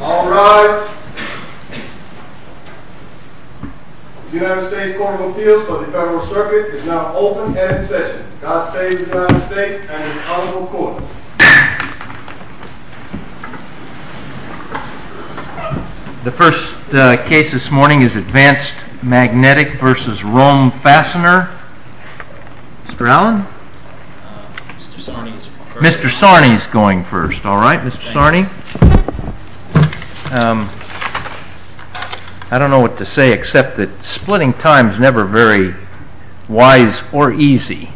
All rise. The United States Court of Appeals for the Federal Circuit is now open and in session. God save the United States and his Honorable Court. The first case this morning is Advanced Magnetic v. Rome Fastener. Mr. Allen? Mr. Sarney is going first. All right, Mr. Sarney. I don't know what to say except that splitting time is never very wise or easy.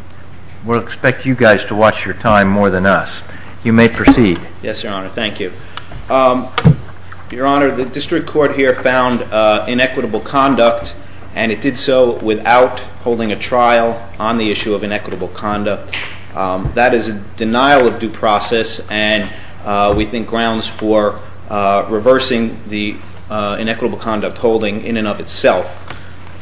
We'll expect you guys to watch your time more than us. You may proceed. Yes, Your Honor. Thank you. Your Honor, the district court here found inequitable conduct and it did so without holding a trial on the issue of inequitable conduct. That is a denial of due process and we think grounds for reversing the inequitable conduct holding in and of itself.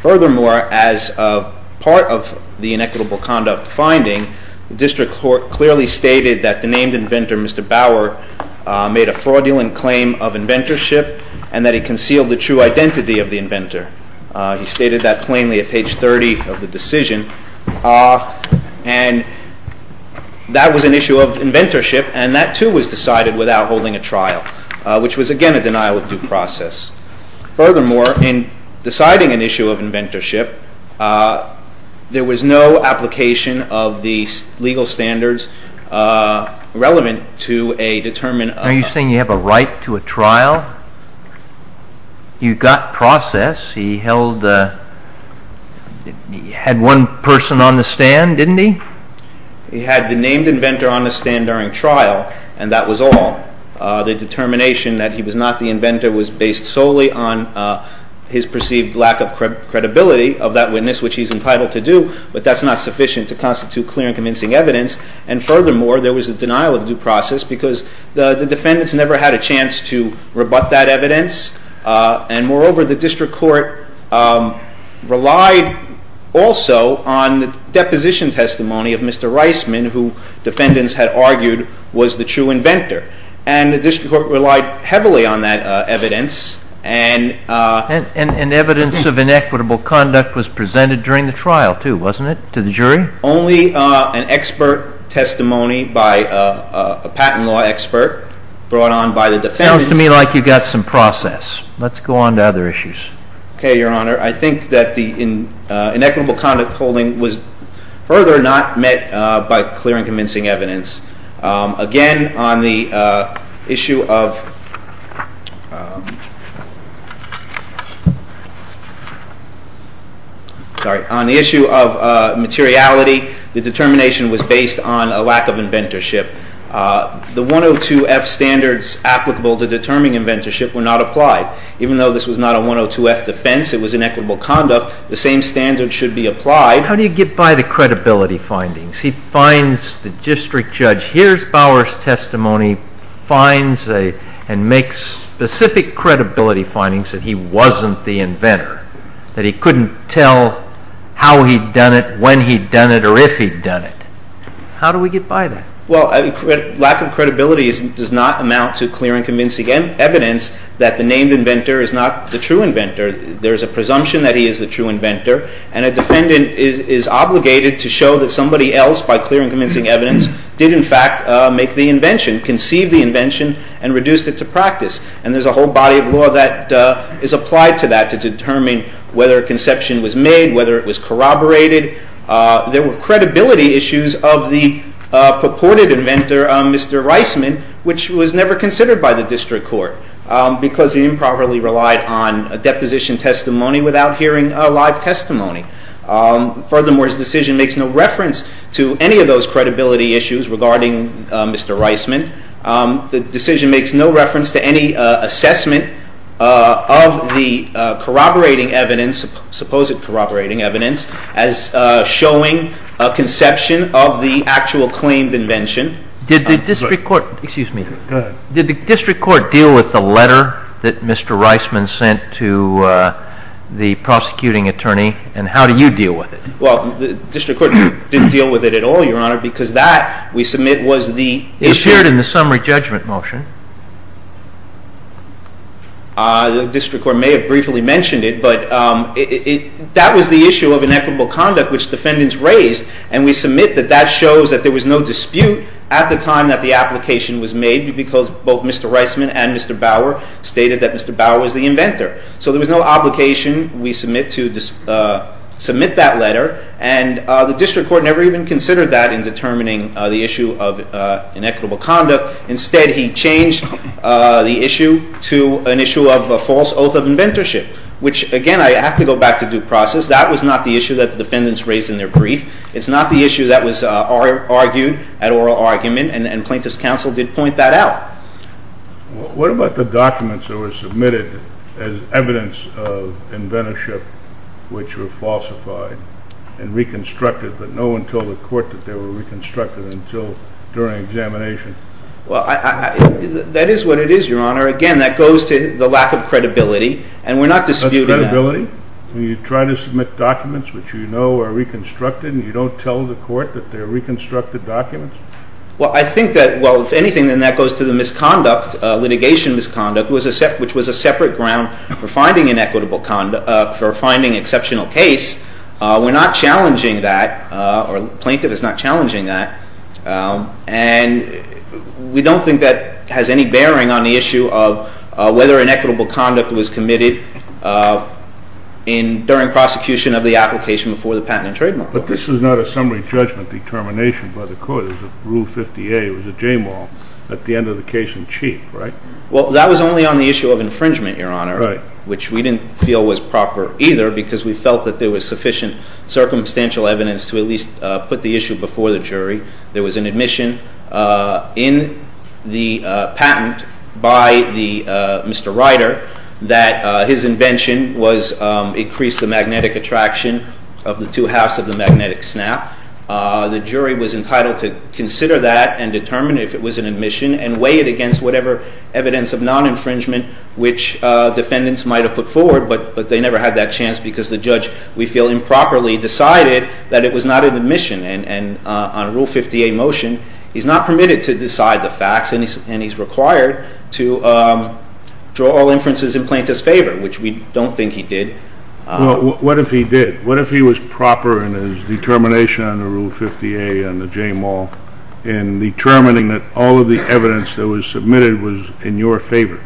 Furthermore, as part of the inequitable conduct finding, the district court clearly stated that the named inventor, Mr. Bauer, made a fraudulent claim of inventorship and that he concealed the true identity of the inventor. He stated that plainly at page 30 of the decision and that was an issue of inventorship and that too was decided without holding a trial, which was again a denial of due process. Furthermore, in deciding an issue of inventorship, there was no application of the legal standards relevant to a determined... Are you saying you have a right to a trial? You got process. He held...he had one person on the stand, didn't he? He had the named inventor on the stand during trial and that was all. The determination that he was not the inventor was based solely on his perceived lack of credibility of that witness, which he's entitled to do, but that's not sufficient to constitute clear and convincing evidence. And furthermore, there was a denial of due process because the defendants never had a chance to rebut that evidence. And moreover, the district court relied also on the deposition testimony of Mr. Reisman, who defendants had argued was the true inventor. And the district court relied heavily on that evidence and... And evidence of inequitable conduct was presented during the trial too, wasn't it, to the jury? Only an expert testimony by a patent law expert brought on by the defendants... Sounds to me like you got some process. Let's go on to other issues. Okay, Your Honor. I think that the inequitable conduct holding was further not met by clear and convincing evidence. Again, on the issue of materiality, the determination was based on a lack of inventorship. The 102-F standards applicable to determining inventorship were not applied. Even though this was not a 102-F defense, it was inequitable conduct, the same standards should be applied. How do you get by the credibility findings? The district judge hears Bauer's testimony, finds and makes specific credibility findings that he wasn't the inventor, that he couldn't tell how he'd done it, when he'd done it, or if he'd done it. How do we get by that? Well, lack of credibility does not amount to clear and convincing evidence that the named inventor is not the true inventor. There's a presumption that he is the true inventor, and a defendant is obligated to show that somebody else, by clear and convincing evidence, did in fact make the invention, conceived the invention, and reduced it to practice. And there's a whole body of law that is applied to that, to determine whether a conception was made, whether it was corroborated. There were credibility issues of the purported inventor, Mr. Reisman, which was never considered by the district court, because he improperly relied on a deposition testimony without hearing a live testimony. Furthermore, his decision makes no reference to any of those credibility issues regarding Mr. Reisman. The decision makes no reference to any assessment of the corroborating evidence, supposed corroborating evidence, as showing a conception of the actual claimed invention. Excuse me. Go ahead. Did the district court deal with the letter that Mr. Reisman sent to the prosecuting attorney, and how do you deal with it? Well, the district court didn't deal with it at all, Your Honor, because that, we submit, was the issue. It appeared in the summary judgment motion. The district court may have briefly mentioned it, but that was the issue of inequitable conduct which defendants raised, and we submit that that shows that there was no dispute at the time that the application was made, because both Mr. Reisman and Mr. Bauer stated that Mr. Bauer was the inventor. So there was no obligation, we submit, to submit that letter, and the district court never even considered that in determining the issue of inequitable conduct. Instead, he changed the issue to an issue of a false oath of inventorship, which, again, I have to go back to due process. That was not the issue that the defendants raised in their brief. It's not the issue that was argued at oral argument, and plaintiff's counsel did point that out. What about the documents that were submitted as evidence of inventorship, which were falsified and reconstructed, but no one told the court that they were reconstructed until during examination? Well, that is what it is, Your Honor. Again, that goes to the lack of credibility, and we're not disputing that. You try to submit documents which you know are reconstructed, and you don't tell the court that they're reconstructed documents? Well, I think that, well, if anything, then that goes to the misconduct, litigation misconduct, which was a separate ground for finding inequitable conduct, for finding exceptional case. We're not challenging that, or plaintiff is not challenging that, and we don't think that has any bearing on the issue of whether inequitable conduct was committed during prosecution of the application before the patent and trademark. But this is not a summary judgment determination by the court. It was a rule 50A. It was a J-moral at the end of the case in chief, right? Well, that was only on the issue of infringement, Your Honor, which we didn't feel was proper either because we felt that there was sufficient circumstantial evidence to at least put the issue before the jury. There was an admission in the patent by Mr. Ryder that his invention increased the magnetic attraction of the two halves of the magnetic snap. The jury was entitled to consider that and determine if it was an admission and weigh it against whatever evidence of non-infringement which defendants might have put forward, but they never had that chance because the judge, we feel, improperly decided that it was not an admission. And on a rule 50A motion, he's not permitted to decide the facts, and he's required to draw all inferences in plaintiff's favor, which we don't think he did. Well, what if he did? What if he was proper in his determination on the rule 50A and the J-moral in determining that all of the evidence that was submitted was in your favor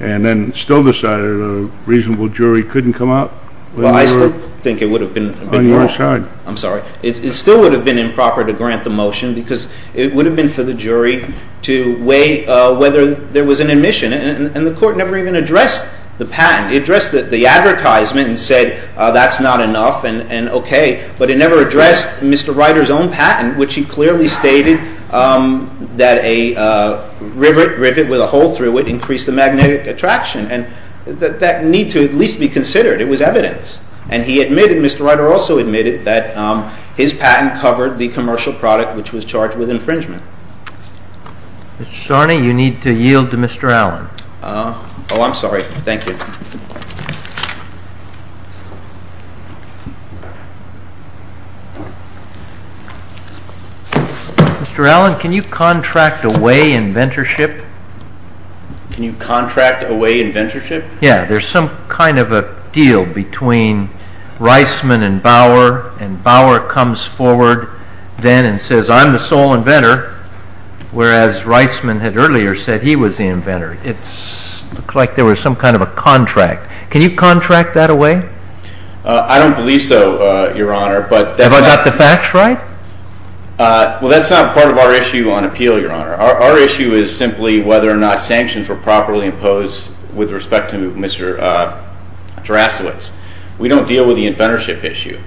and then still decided a reasonable jury couldn't come out? Well, I still think it would have been more. On your side. I'm sorry. It still would have been improper to grant the motion because it would have been for the jury to weigh whether there was an admission. And the court never even addressed the patent. It addressed the advertisement and said that's not enough and okay, but it never addressed Mr. Ryder's own patent, which he clearly stated that a rivet with a hole through it increased the magnetic attraction. And that need to at least be considered. It was evidence. And he admitted, Mr. Ryder also admitted, that his patent covered the commercial product, which was charged with infringement. Mr. Sharney, you need to yield to Mr. Allen. Oh, I'm sorry. Thank you. Mr. Allen, can you contract away inventorship? Can you contract away inventorship? Yeah, there's some kind of a deal between Reisman and Bauer. And Bauer comes forward then and says I'm the sole inventor, whereas Reisman had earlier said he was the inventor. It looked like there was some kind of a contract. Can you contract that away? I don't believe so, Your Honor. Have I got the facts right? Well, that's not part of our issue on appeal, Your Honor. Our issue is simply whether or not sanctions were properly imposed with respect to Mr. Drasowitz. We don't deal with the inventorship issue.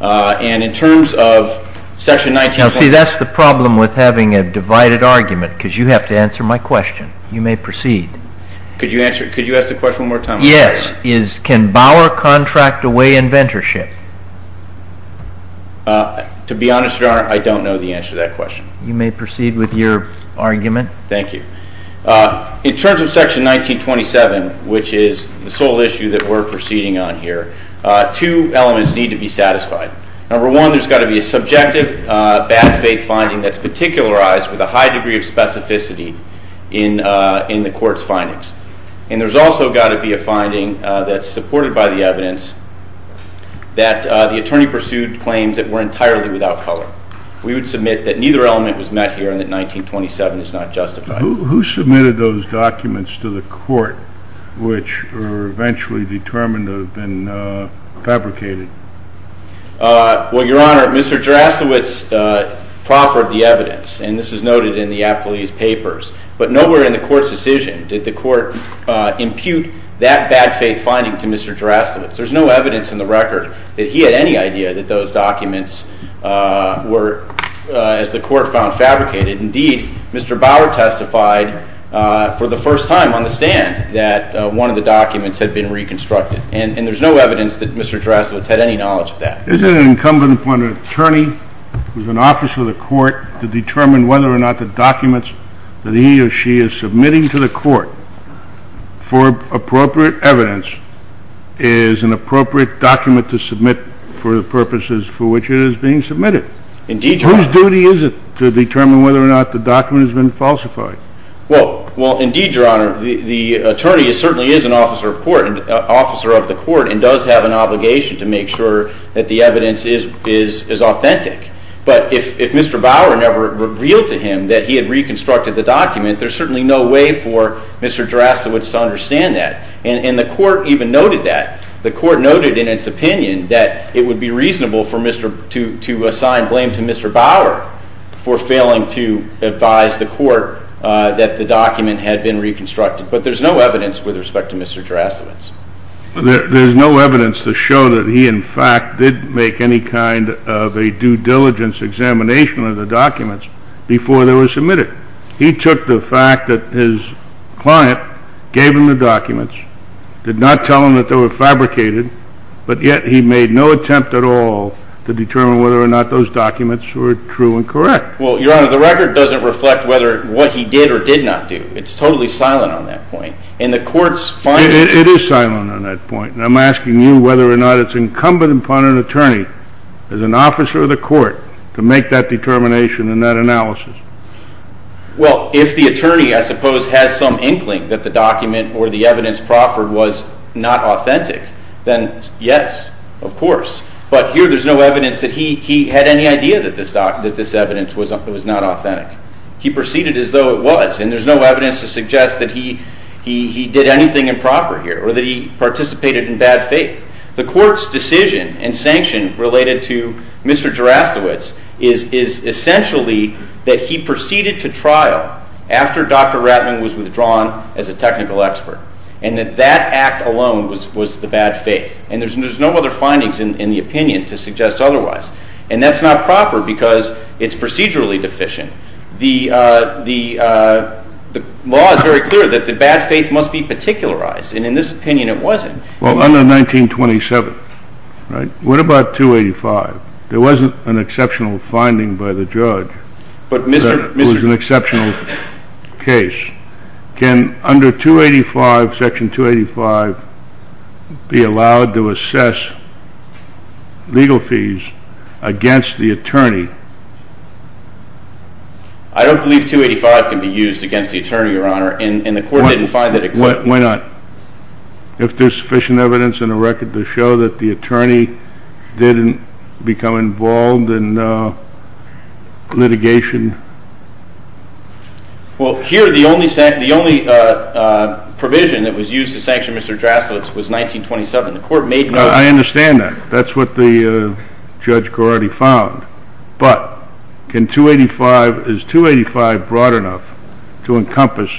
And in terms of section 19. Now, see, that's the problem with having a divided argument, because you have to answer my question. You may proceed. Could you ask the question one more time? Yes. Can Bauer contract away inventorship? To be honest, Your Honor, I don't know the answer to that question. You may proceed with your argument. Thank you. In terms of section 1927, which is the sole issue that we're proceeding on here, two elements need to be satisfied. Number one, there's got to be a subjective bad faith finding that's particularized with a high degree of specificity in the court's findings. And there's also got to be a finding that's supported by the evidence that the attorney pursued claims that were entirely without color. We would submit that neither element was met here and that 1927 is not justified. Who submitted those documents to the court, which were eventually determined to have been fabricated? Well, Your Honor, Mr. Drasowitz proffered the evidence. And this is noted in the applese papers. But nowhere in the court's decision did the court impute that bad faith finding to Mr. Drasowitz. There's no evidence in the record that he had any idea that those documents were, as the court found, fabricated. Indeed, Mr. Bauer testified for the first time on the stand that one of the documents had been reconstructed. And there's no evidence that Mr. Drasowitz had any knowledge of that. Isn't it incumbent upon an attorney who's an officer of the court to determine whether or not the documents that he or she is submitting to the court for appropriate evidence is an appropriate document to submit for the purposes for which it is being submitted? Indeed, Your Honor. Whose duty is it to determine whether or not the document has been falsified? Well, indeed, Your Honor, the attorney certainly is an officer of the court and does have an obligation to make sure that the evidence is authentic. But if Mr. Bauer never revealed to him that he had reconstructed the document, there's certainly no way for Mr. Drasowitz to understand that. And the court even noted that. The court noted in its opinion that it would be reasonable to assign blame to Mr. Bauer for failing to advise the court that the document had been reconstructed. But there's no evidence with respect to Mr. Drasowitz. There's no evidence to show that he, in fact, did make any kind of a due diligence examination of the documents before they were submitted. He took the fact that his client gave him the documents, did not tell him that they were fabricated, but yet he made no attempt at all to determine whether or not those documents were true and correct. Well, Your Honor, the record doesn't reflect whether what he did or did not do. It's totally silent on that point. And the court's finding— It is silent on that point. And I'm asking you whether or not it's incumbent upon an attorney, as an officer of the court, to make that determination and that analysis. Well, if the attorney, I suppose, has some inkling that the document or the evidence proffered was not authentic, then yes, of course. But here there's no evidence that he had any idea that this evidence was not authentic. He proceeded as though it was, and there's no evidence to suggest that he did anything improper here or that he participated in bad faith. The court's decision and sanction related to Mr. Drasowitz is essentially that he proceeded to trial after Dr. Ratling was withdrawn as a technical expert, and that that act alone was the bad faith. And there's no other findings in the opinion to suggest otherwise. And that's not proper because it's procedurally deficient. The law is very clear that the bad faith must be particularized, and in this opinion it wasn't. Well, under 1927, right, what about 285? There wasn't an exceptional finding by the judge. But, Mr. — It was an exceptional case. Can under 285, Section 285, be allowed to assess legal fees against the attorney? I don't believe 285 can be used against the attorney, Your Honor, and the court didn't find that it could. Why not? If there's sufficient evidence and a record to show that the attorney didn't become involved in litigation? Well, here the only provision that was used to sanction Mr. Drasowitz was 1927. The court made no — I understand that. That's what the judge already found. But can 285 — is 285 broad enough to encompass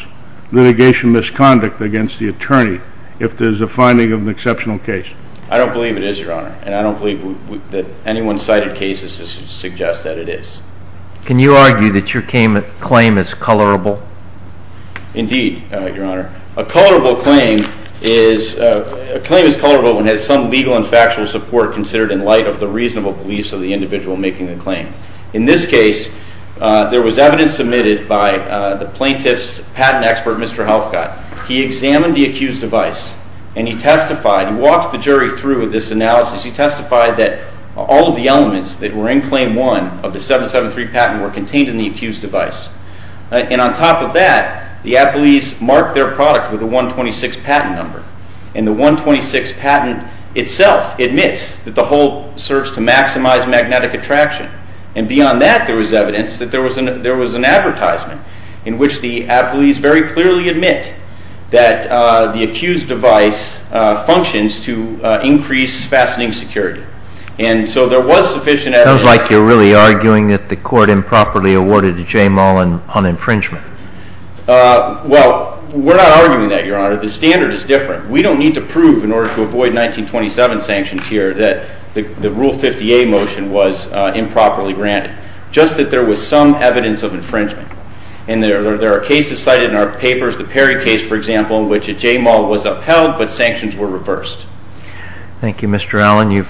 litigation misconduct against the attorney if there's a finding of an exceptional case? I don't believe it is, Your Honor, and I don't believe that anyone cited cases to suggest that it is. Can you argue that your claim is colorable? Indeed, Your Honor. A colorable claim is — a claim is colorable when it has some legal and factual support considered in light of the reasonable beliefs of the individual making the claim. In this case, there was evidence submitted by the plaintiff's patent expert, Mr. Helfgott. He examined the accused device, and he testified — he walked the jury through this analysis. He testified that all of the elements that were in Claim 1 of the 773 patent were contained in the accused device. And on top of that, the appellees marked their product with a 126 patent number. And the 126 patent itself admits that the whole serves to maximize magnetic attraction. And beyond that, there was evidence that there was an — there was an advertisement in which the appellees very clearly admit that the accused device functions to increase fastening security. And so there was sufficient evidence — It sounds like you're really arguing that the court improperly awarded the J. Mullen on infringement. Well, we're not arguing that, Your Honor. The standard is different. We don't need to prove in order to avoid 1927 sanctions here that the Rule 50A motion was improperly granted, just that there was some evidence of infringement. And there are cases cited in our papers, the Perry case, for example, in which a J. Mullen was upheld, but sanctions were reversed. Thank you, Mr. Allen.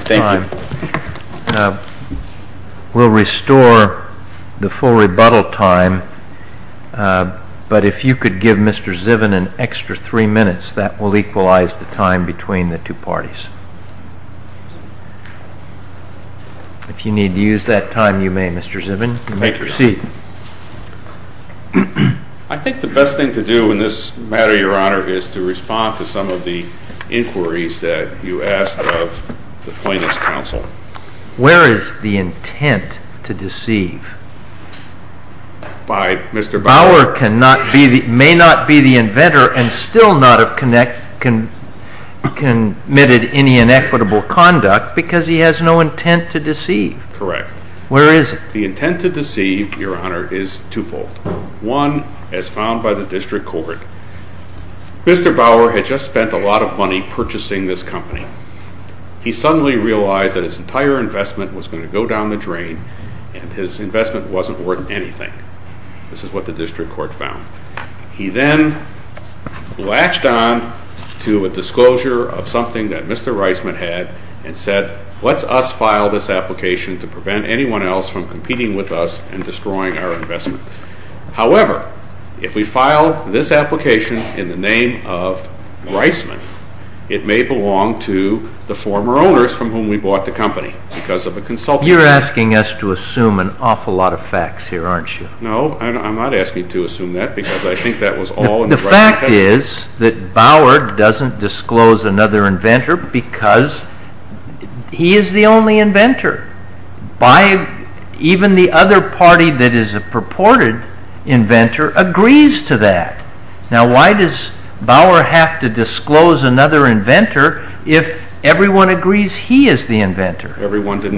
Thank you. We'll restore the full rebuttal time, but if you could give Mr. Zivin an extra three minutes, that will equalize the time between the two parties. If you need to use that time, you may, Mr. Zivin. You may proceed. I think the best thing to do in this matter, Your Honor, is to respond to some of the inquiries that you asked of the plaintiff's counsel. Where is the intent to deceive? By Mr. Bauer. Bauer may not be the inventor and still not have committed any inequitable conduct because he has no intent to deceive. Correct. Where is it? The intent to deceive, Your Honor, is twofold. One, as found by the district court, Mr. Bauer had just spent a lot of money purchasing this company. He suddenly realized that his entire investment was going to go down the drain and his investment wasn't worth anything. This is what the district court found. He then latched on to a disclosure of something that Mr. Reisman had and said, let's us file this application to prevent anyone else from competing with us and destroying our investment. However, if we file this application in the name of Reisman, it may belong to the former owners from whom we bought the company because of a consultant. You're asking us to assume an awful lot of facts here, aren't you? No, I'm not asking you to assume that because I think that was all in the writing of the testament. The fact is that Bauer doesn't disclose another inventor because he is the only inventor. Even the other party that is a purported inventor agrees to that. Now, why does Bauer have to disclose another inventor if everyone agrees he is the inventor? The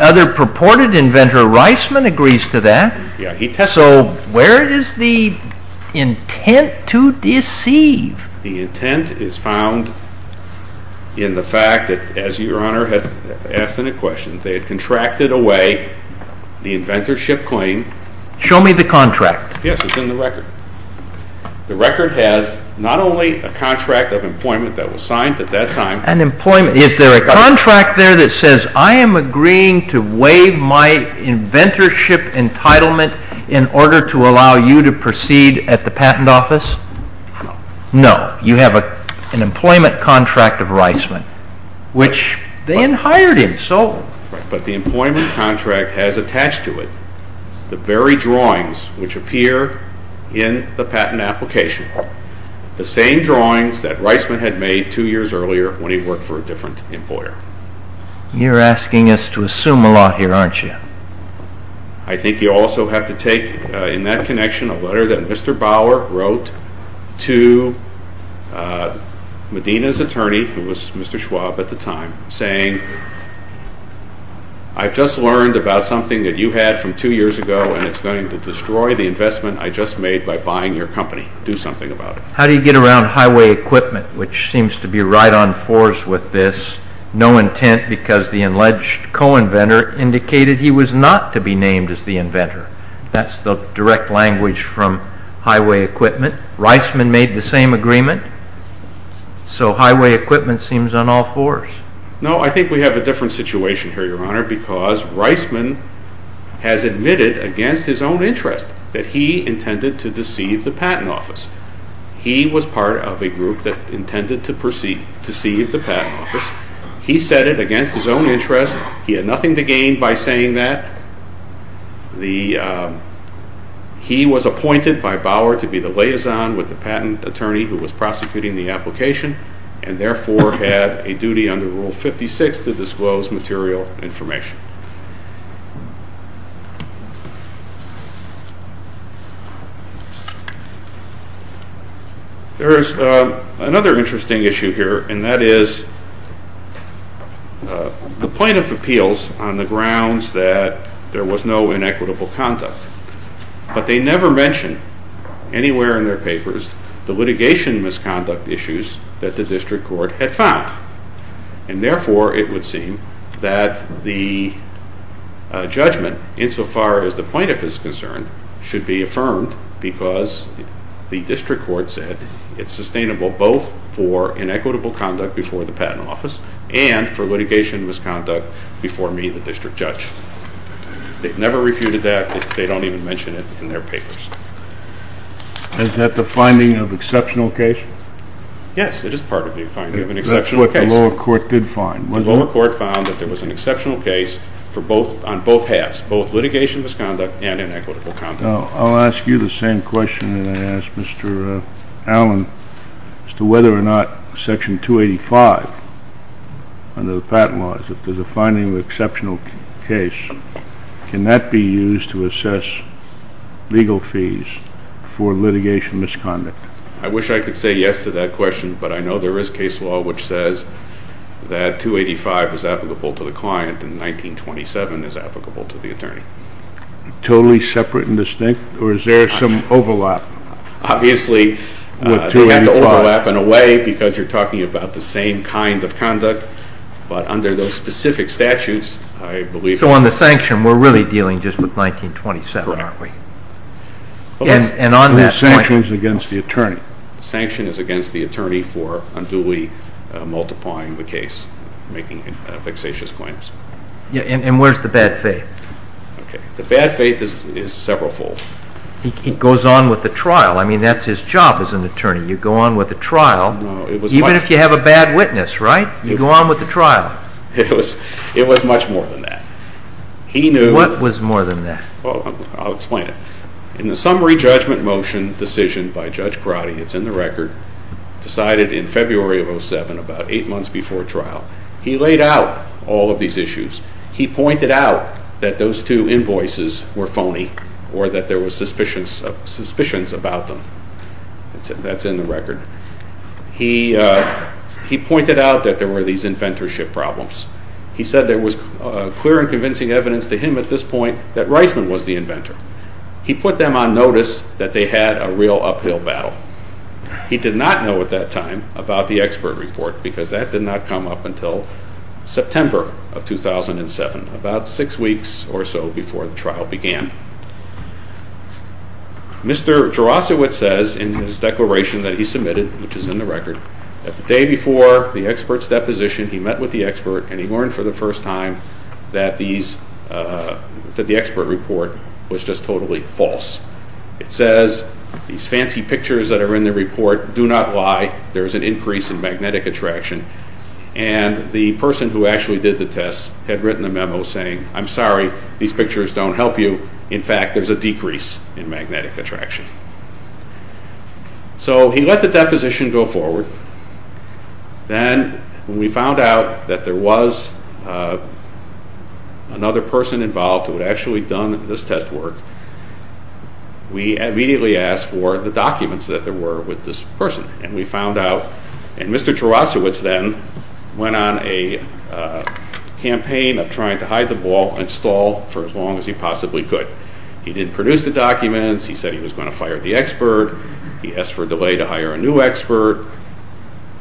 other purported inventor, Reisman, agrees to that. So, where is the intent to deceive? The intent is found in the fact that, as Your Honor had asked in a question, they had contracted away the inventorship claim. Show me the contract. Yes, it's in the record. The record has not only a contract of employment that was signed at that time. Is there a contract there that says, I am agreeing to waive my inventorship entitlement in order to allow you to proceed at the patent office? No. No, you have an employment contract of Reisman, which they then hired him. But the employment contract has attached to it the very drawings which appear in the patent application. The same drawings that Reisman had made two years earlier when he worked for a different employer. You are asking us to assume a lot here, aren't you? I think you also have to take in that connection a letter that Mr. Bauer wrote to Medina's attorney, who was Mr. Schwab at the time, saying, I've just learned about something that you had from two years ago, and it's going to destroy the investment I just made by buying your company. Do something about it. How do you get around highway equipment, which seems to be right on fours with this? No intent because the alleged co-inventor indicated he was not to be named as the inventor. That's the direct language from highway equipment. Reisman made the same agreement, so highway equipment seems on all fours. No, I think we have a different situation here, Your Honor, because Reisman has admitted against his own interest that he intended to deceive the patent office. He was part of a group that intended to deceive the patent office. He said it against his own interest. He had nothing to gain by saying that. He was appointed by Bauer to be the liaison with the patent attorney who was prosecuting the application, and therefore had a duty under Rule 56 to disclose material information. There is another interesting issue here, and that is the plaintiff appeals on the grounds that there was no inequitable conduct, but they never mention anywhere in their papers the litigation misconduct issues that the district court had found, and therefore it would seem that the judgment, insofar as the plaintiff is concerned, should be affirmed because the district court said it's sustainable both for inequitable conduct before the patent office and for litigation misconduct before me, the district judge. They never refuted that. They don't even mention it in their papers. Is that the finding of exceptional case? Yes, it is part of the finding of an exceptional case. That's what the lower court did find, wasn't it? The lower court found that there was an exceptional case on both halves, both litigation misconduct and inequitable conduct. I'll ask you the same question that I asked Mr. Allen as to whether or not Section 285 under the patent laws, if there's a finding of exceptional case, can that be used to assess legal fees for litigation misconduct? I wish I could say yes to that question, but I know there is case law which says that 285 is applicable to the client and 1927 is applicable to the attorney. Totally separate and distinct, or is there some overlap? Obviously, you have to overlap in a way because you're talking about the same kind of conduct, but under those specific statutes, I believe... So on the sanction, we're really dealing just with 1927, aren't we? The sanction is against the attorney. The sanction is against the attorney for unduly multiplying the case, making vexatious claims. And where's the bad faith? The bad faith is several fold. He goes on with the trial. I mean, that's his job as an attorney. You go on with the trial. Even if you have a bad witness, right? You go on with the trial. It was much more than that. What was more than that? Well, I'll explain it. In the summary judgment motion decision by Judge Grotti, it's in the record, decided in February of 2007, about eight months before trial, he laid out all of these issues. He pointed out that those two invoices were phony or that there were suspicions about them. That's in the record. He pointed out that there were these inventorship problems. He said there was clear and convincing evidence to him at this point that Reisman was the inventor. He put them on notice that they had a real uphill battle. He did not know at that time about the expert report because that did not come up until September of 2007, about six weeks or so before the trial began. Mr. Jaroszewicz says in his declaration that he submitted, which is in the record, that the day before the expert's deposition, he met with the expert and he learned for the first time that the expert report was just totally false. It says, these fancy pictures that are in the report do not lie. There is an increase in magnetic attraction. And the person who actually did the test had written a memo saying, I'm sorry, these pictures don't help you. In fact, there's a decrease in magnetic attraction. So he let the deposition go forward. Then when we found out that there was another person involved who had actually done this test work, we immediately asked for the documents that there were with this person. And we found out, and Mr. Jaroszewicz then went on a campaign of trying to hide the ball and stall for as long as he possibly could. He didn't produce the documents. He said he was going to fire the expert. He asked for a delay to hire a new expert.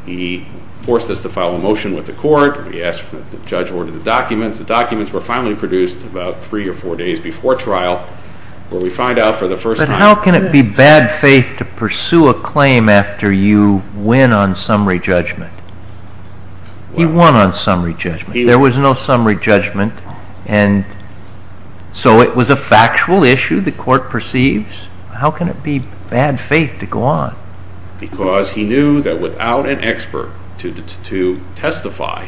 He forced us to file a motion with the court. He asked that the judge order the documents. The documents were finally produced about three or four days before trial, where we find out for the first time. But how can it be bad faith to pursue a claim after you win on summary judgment? He won on summary judgment. There was no summary judgment. And so it was a factual issue, the court perceives. How can it be bad faith to go on? Because he knew that without an expert to testify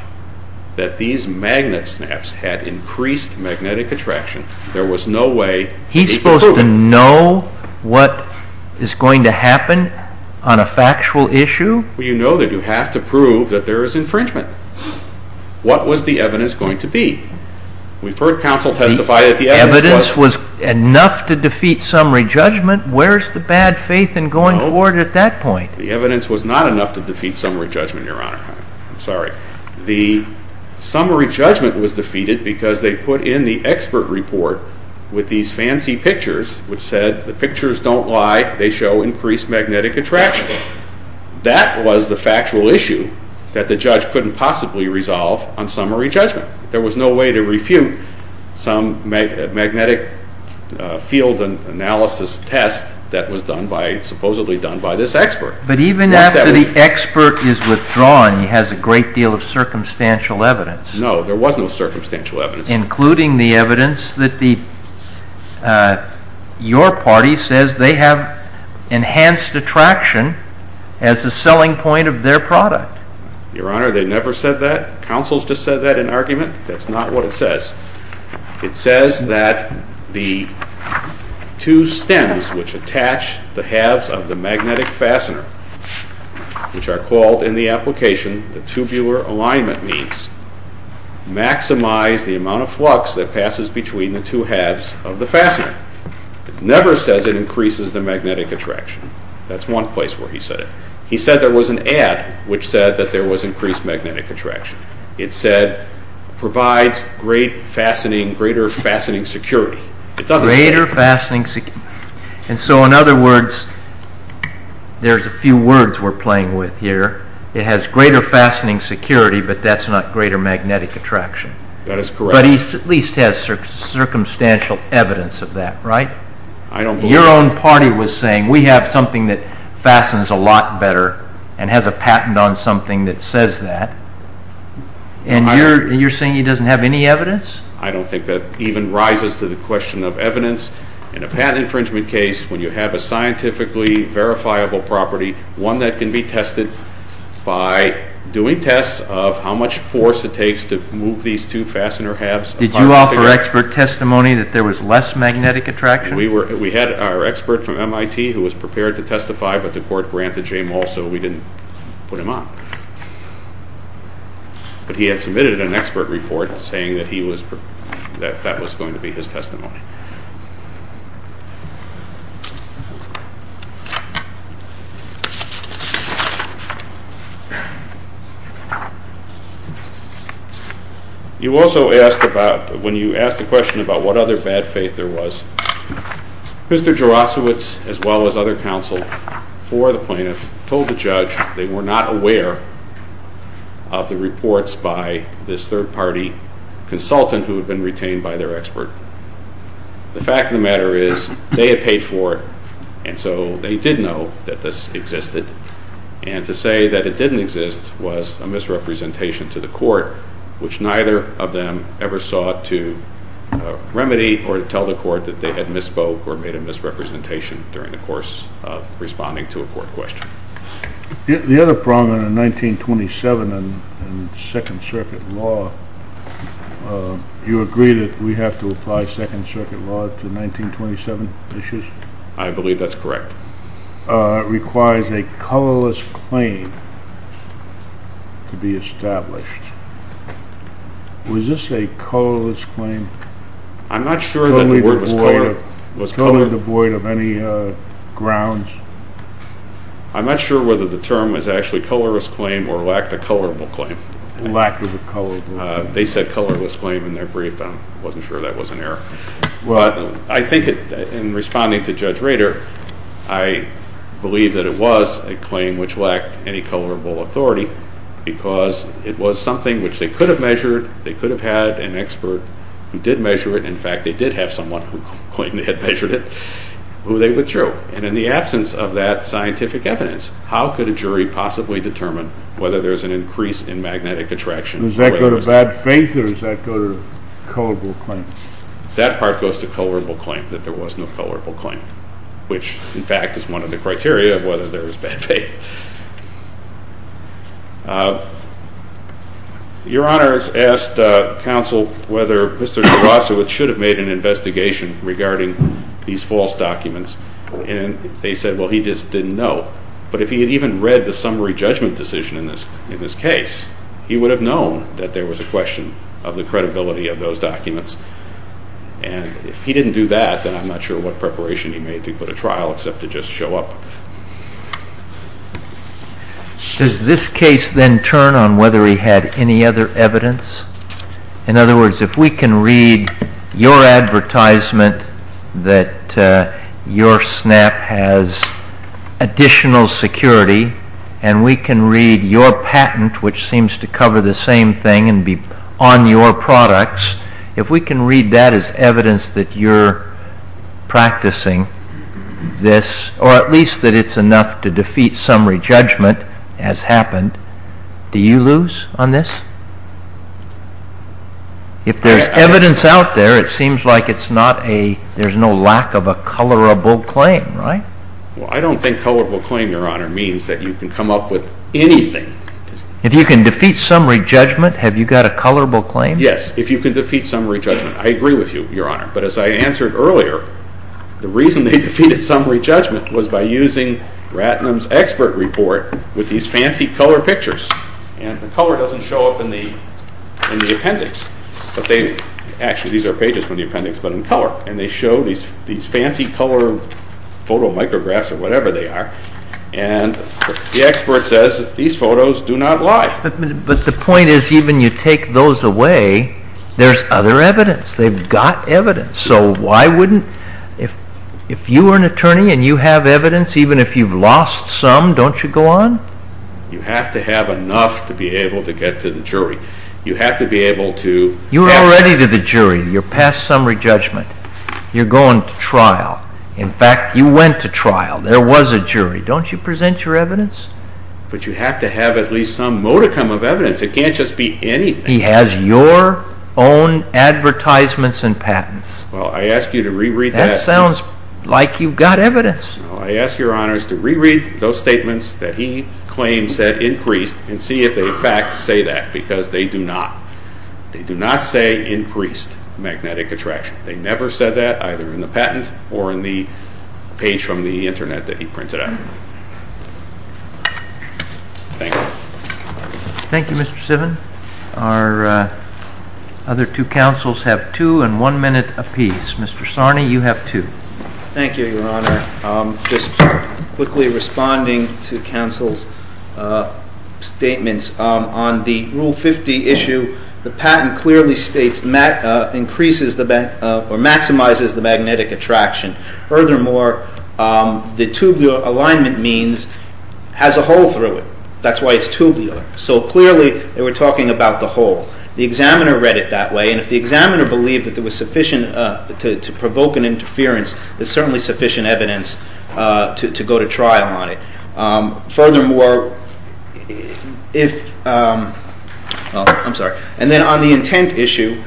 that these magnet snaps had increased magnetic attraction, there was no way that he could prove it. He's supposed to know what is going to happen on a factual issue? Well, you know that you have to prove that there is infringement. What was the evidence going to be? We've heard counsel testify that the evidence was enough to defeat summary judgment. Where is the bad faith in going forward at that point? The evidence was not enough to defeat summary judgment, Your Honor. I'm sorry. The summary judgment was defeated because they put in the expert report with these fancy pictures, which said the pictures don't lie. They show increased magnetic attraction. That was the factual issue that the judge couldn't possibly resolve on summary judgment. There was no way to refute some magnetic field analysis test that was supposedly done by this expert. But even after the expert is withdrawn, he has a great deal of circumstantial evidence. No, there was no circumstantial evidence. Including the evidence that your party says they have enhanced attraction as a selling point of their product. Your Honor, they never said that. Counsel's just said that in argument. That's not what it says. It says that the two stems which attach the halves of the magnetic fastener, which are called in the application the tubular alignment means, maximize the amount of flux that passes between the two halves of the fastener. It never says it increases the magnetic attraction. That's one place where he said it. He said there was an ad which said that there was increased magnetic attraction. It said provides greater fastening security. It doesn't say. Greater fastening security. And so in other words, there's a few words we're playing with here. It has greater fastening security, but that's not greater magnetic attraction. That is correct. But he at least has circumstantial evidence of that, right? I don't believe it. Your own party was saying we have something that fastens a lot better and has a patent on something that says that. And you're saying he doesn't have any evidence? I don't think that even rises to the question of evidence. In a patent infringement case, when you have a scientifically verifiable property, one that can be tested by doing tests of how much force it takes to move these two fastener halves. Did you offer expert testimony that there was less magnetic attraction? We had our expert from MIT who was prepared to testify, but the court granted him also we didn't put him on. But he had submitted an expert report saying that that was going to be his testimony. You also asked about, when you asked the question about what other bad faith there was, Mr. Jaroslawicz, as well as other counsel for the plaintiff, told the judge they were not aware of the reports by this third-party consultant who had been retained by their expert. The fact of the matter is they had paid for it, and so they did know that this existed. And to say that it didn't exist was a misrepresentation to the court, which neither of them ever sought to remedy or tell the court that they had misspoke or made a misrepresentation during the course of responding to a court question. The other problem in 1927 in Second Circuit law, you agree that we have to apply Second Circuit law to 1927 issues? I believe that's correct. It requires a colorless claim to be established. Was this a colorless claim? I'm not sure that the word was color. Color devoid of any grounds? I'm not sure whether the term was actually colorless claim or lacked a colorable claim. Lack of a color. They said colorless claim in their brief, and I wasn't sure that was an error. But I think in responding to Judge Rader, I believe that it was a claim which lacked any colorable authority because it was something which they could have measured, they could have had an expert who did measure it. In fact, they did have someone who claimed they had measured it who they withdrew. And in the absence of that scientific evidence, how could a jury possibly determine whether there's an increase in magnetic attraction? Does that go to bad faith or does that go to colorable claim? That part goes to colorable claim, that there was no colorable claim, which, in fact, is one of the criteria of whether there was bad faith. Your Honor has asked counsel whether Mr. Tarasowitz should have made an investigation regarding these false documents, and they said, well, he just didn't know. But if he had even read the summary judgment decision in this case, he would have known that there was a question of the credibility of those documents. And if he didn't do that, then I'm not sure what preparation he made to put a trial except to just show up. Does this case then turn on whether he had any other evidence? In other words, if we can read your advertisement that your SNAP has additional security and we can read your patent, which seems to cover the same thing and be on your products, if we can read that as evidence that you're practicing this, or at least that it's enough to defeat summary judgment as happened, do you lose on this? If there's evidence out there, it seems like there's no lack of a colorable claim, right? Well, I don't think colorable claim, Your Honor, means that you can come up with anything. If you can defeat summary judgment, have you got a colorable claim? Yes, if you can defeat summary judgment. I agree with you, Your Honor. But as I answered earlier, the reason they defeated summary judgment was by using Ratnam's expert report with these fancy color pictures. And the color doesn't show up in the appendix. Actually, these are pages from the appendix, but in color. And they show these fancy color photo micrographs or whatever they are. And the expert says these photos do not lie. But the point is even you take those away, there's other evidence. They've got evidence. So why wouldn't, if you were an attorney and you have evidence, even if you've lost some, don't you go on? You have to have enough to be able to get to the jury. You have to be able to... You're already to the jury. You're past summary judgment. You're going to trial. In fact, you went to trial. There was a jury. Don't you present your evidence? But you have to have at least some modicum of evidence. It can't just be anything. He has your own advertisements and patents. Well, I ask you to re-read that. That sounds like you've got evidence. I ask your honors to re-read those statements that he claims have increased and see if they, in fact, say that. Because they do not. They do not say increased magnetic attraction. They never said that, either in the patent or in the page from the internet that he printed out. Thank you. Thank you, Mr. Sivin. Our other two counsels have two and one minute apiece. Mr. Sarney, you have two. Thank you, your honor. Just quickly responding to counsel's statements. On the Rule 50 issue, the patent clearly states increases or maximizes the magnetic attraction. Furthermore, the tube alignment means has a hole through it. That's why it's tubular. So clearly, they were talking about the hole. The examiner read it that way. And if the examiner believed that there was sufficient to provoke an interference, there's certainly sufficient evidence to go to trial on it. Furthermore, if – well, I'm sorry. And then on the intent issue,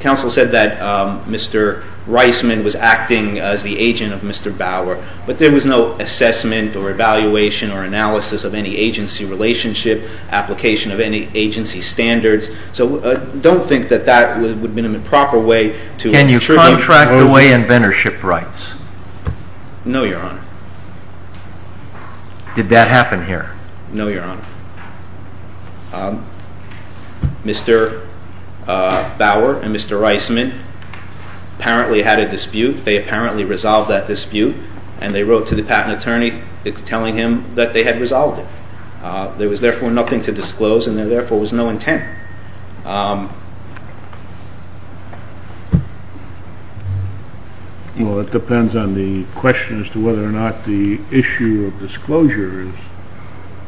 counsel said that Mr. Reisman was acting as the agent of Mr. Bauer. But there was no assessment or evaluation or analysis of any agency relationship, application of any agency standards. So don't think that that would have been a proper way to – Can you contract away inventorship rights? No, your honor. Did that happen here? No, your honor. Mr. Bauer and Mr. Reisman apparently had a dispute. They apparently resolved that dispute, and they wrote to the patent attorney telling him that they had resolved it. There was, therefore, nothing to disclose, and there, therefore, was no intent. Well, it depends on the question as to whether or not the issue of disclosure is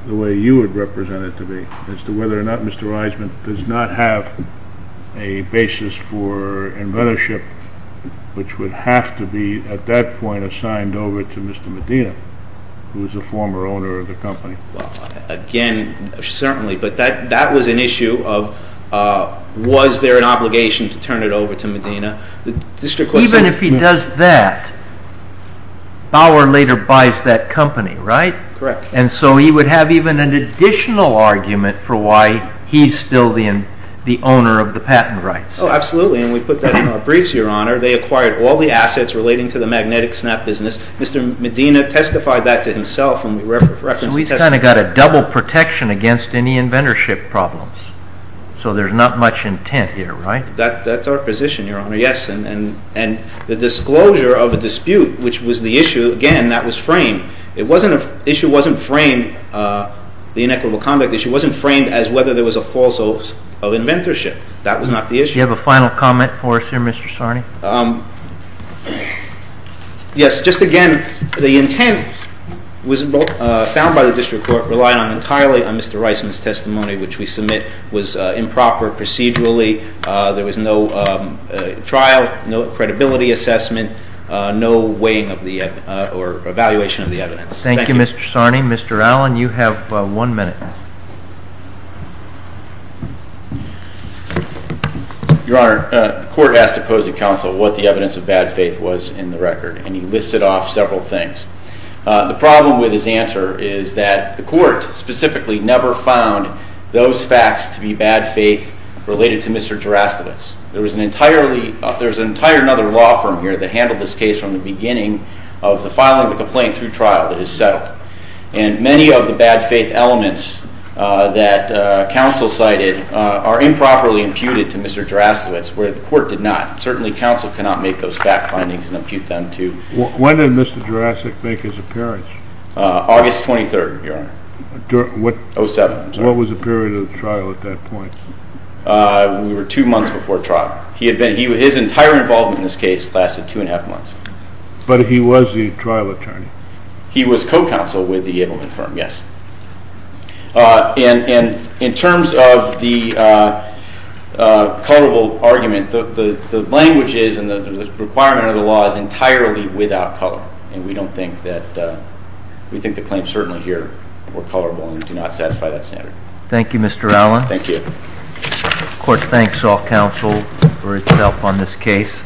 the way you would represent it to me, as to whether or not Mr. Reisman does not have a basis for inventorship, which would have to be at that point assigned over to Mr. Medina, who is a former owner of the company. Well, again, certainly. But that was an issue of was there an obligation to turn it over to Medina. Even if he does that, Bauer later buys that company, right? Correct. And so he would have even an additional argument for why he's still the owner of the patent rights. Oh, absolutely. And we put that in our briefs, your honor. They acquired all the assets relating to the magnetic snap business. Mr. Medina testified that to himself. So we've kind of got a double protection against any inventorship problems. So there's not much intent here, right? That's our position, your honor, yes. And the disclosure of a dispute, which was the issue, again, that was framed. The issue wasn't framed, the inequitable conduct issue, wasn't framed as whether there was a false hope of inventorship. That was not the issue. Do you have a final comment for us here, Mr. Sarni? Yes. Just again, the intent was found by the district court relying entirely on Mr. Reisman's testimony, which we submit was improper procedurally. There was no trial, no credibility assessment, no weighing of the or evaluation of the evidence. Thank you, Mr. Sarni. Mr. Allen, you have one minute. Your honor, the court asked to pose to counsel what the evidence of bad faith was in the record. And he listed off several things. The problem with his answer is that the court specifically never found those facts to be bad faith related to Mr. Gerasimus. There was an entirely, there's an entire other law firm here that handled this case from the beginning of the filing of the complaint through trial that is settled. And many of the bad faith elements that counsel cited are improperly imputed to Mr. Gerasimus, where the court did not. Certainly, counsel cannot make those fact findings and impute them to When did Mr. Gerasimus make his appearance? August 23rd, your honor. What? 07, I'm sorry. What was the period of the trial at that point? We were two months before trial. His entire involvement in this case lasted two and a half months. But he was the trial attorney. He was co-counsel with the Abelman firm, yes. And in terms of the colorable argument, the language is and the requirement of the law is entirely without color. And we don't think that, we think the claims certainly here were colorable and do not satisfy that standard. Thank you, Mr. Allen. Thank you. The court thanks all counsel for its help on this case.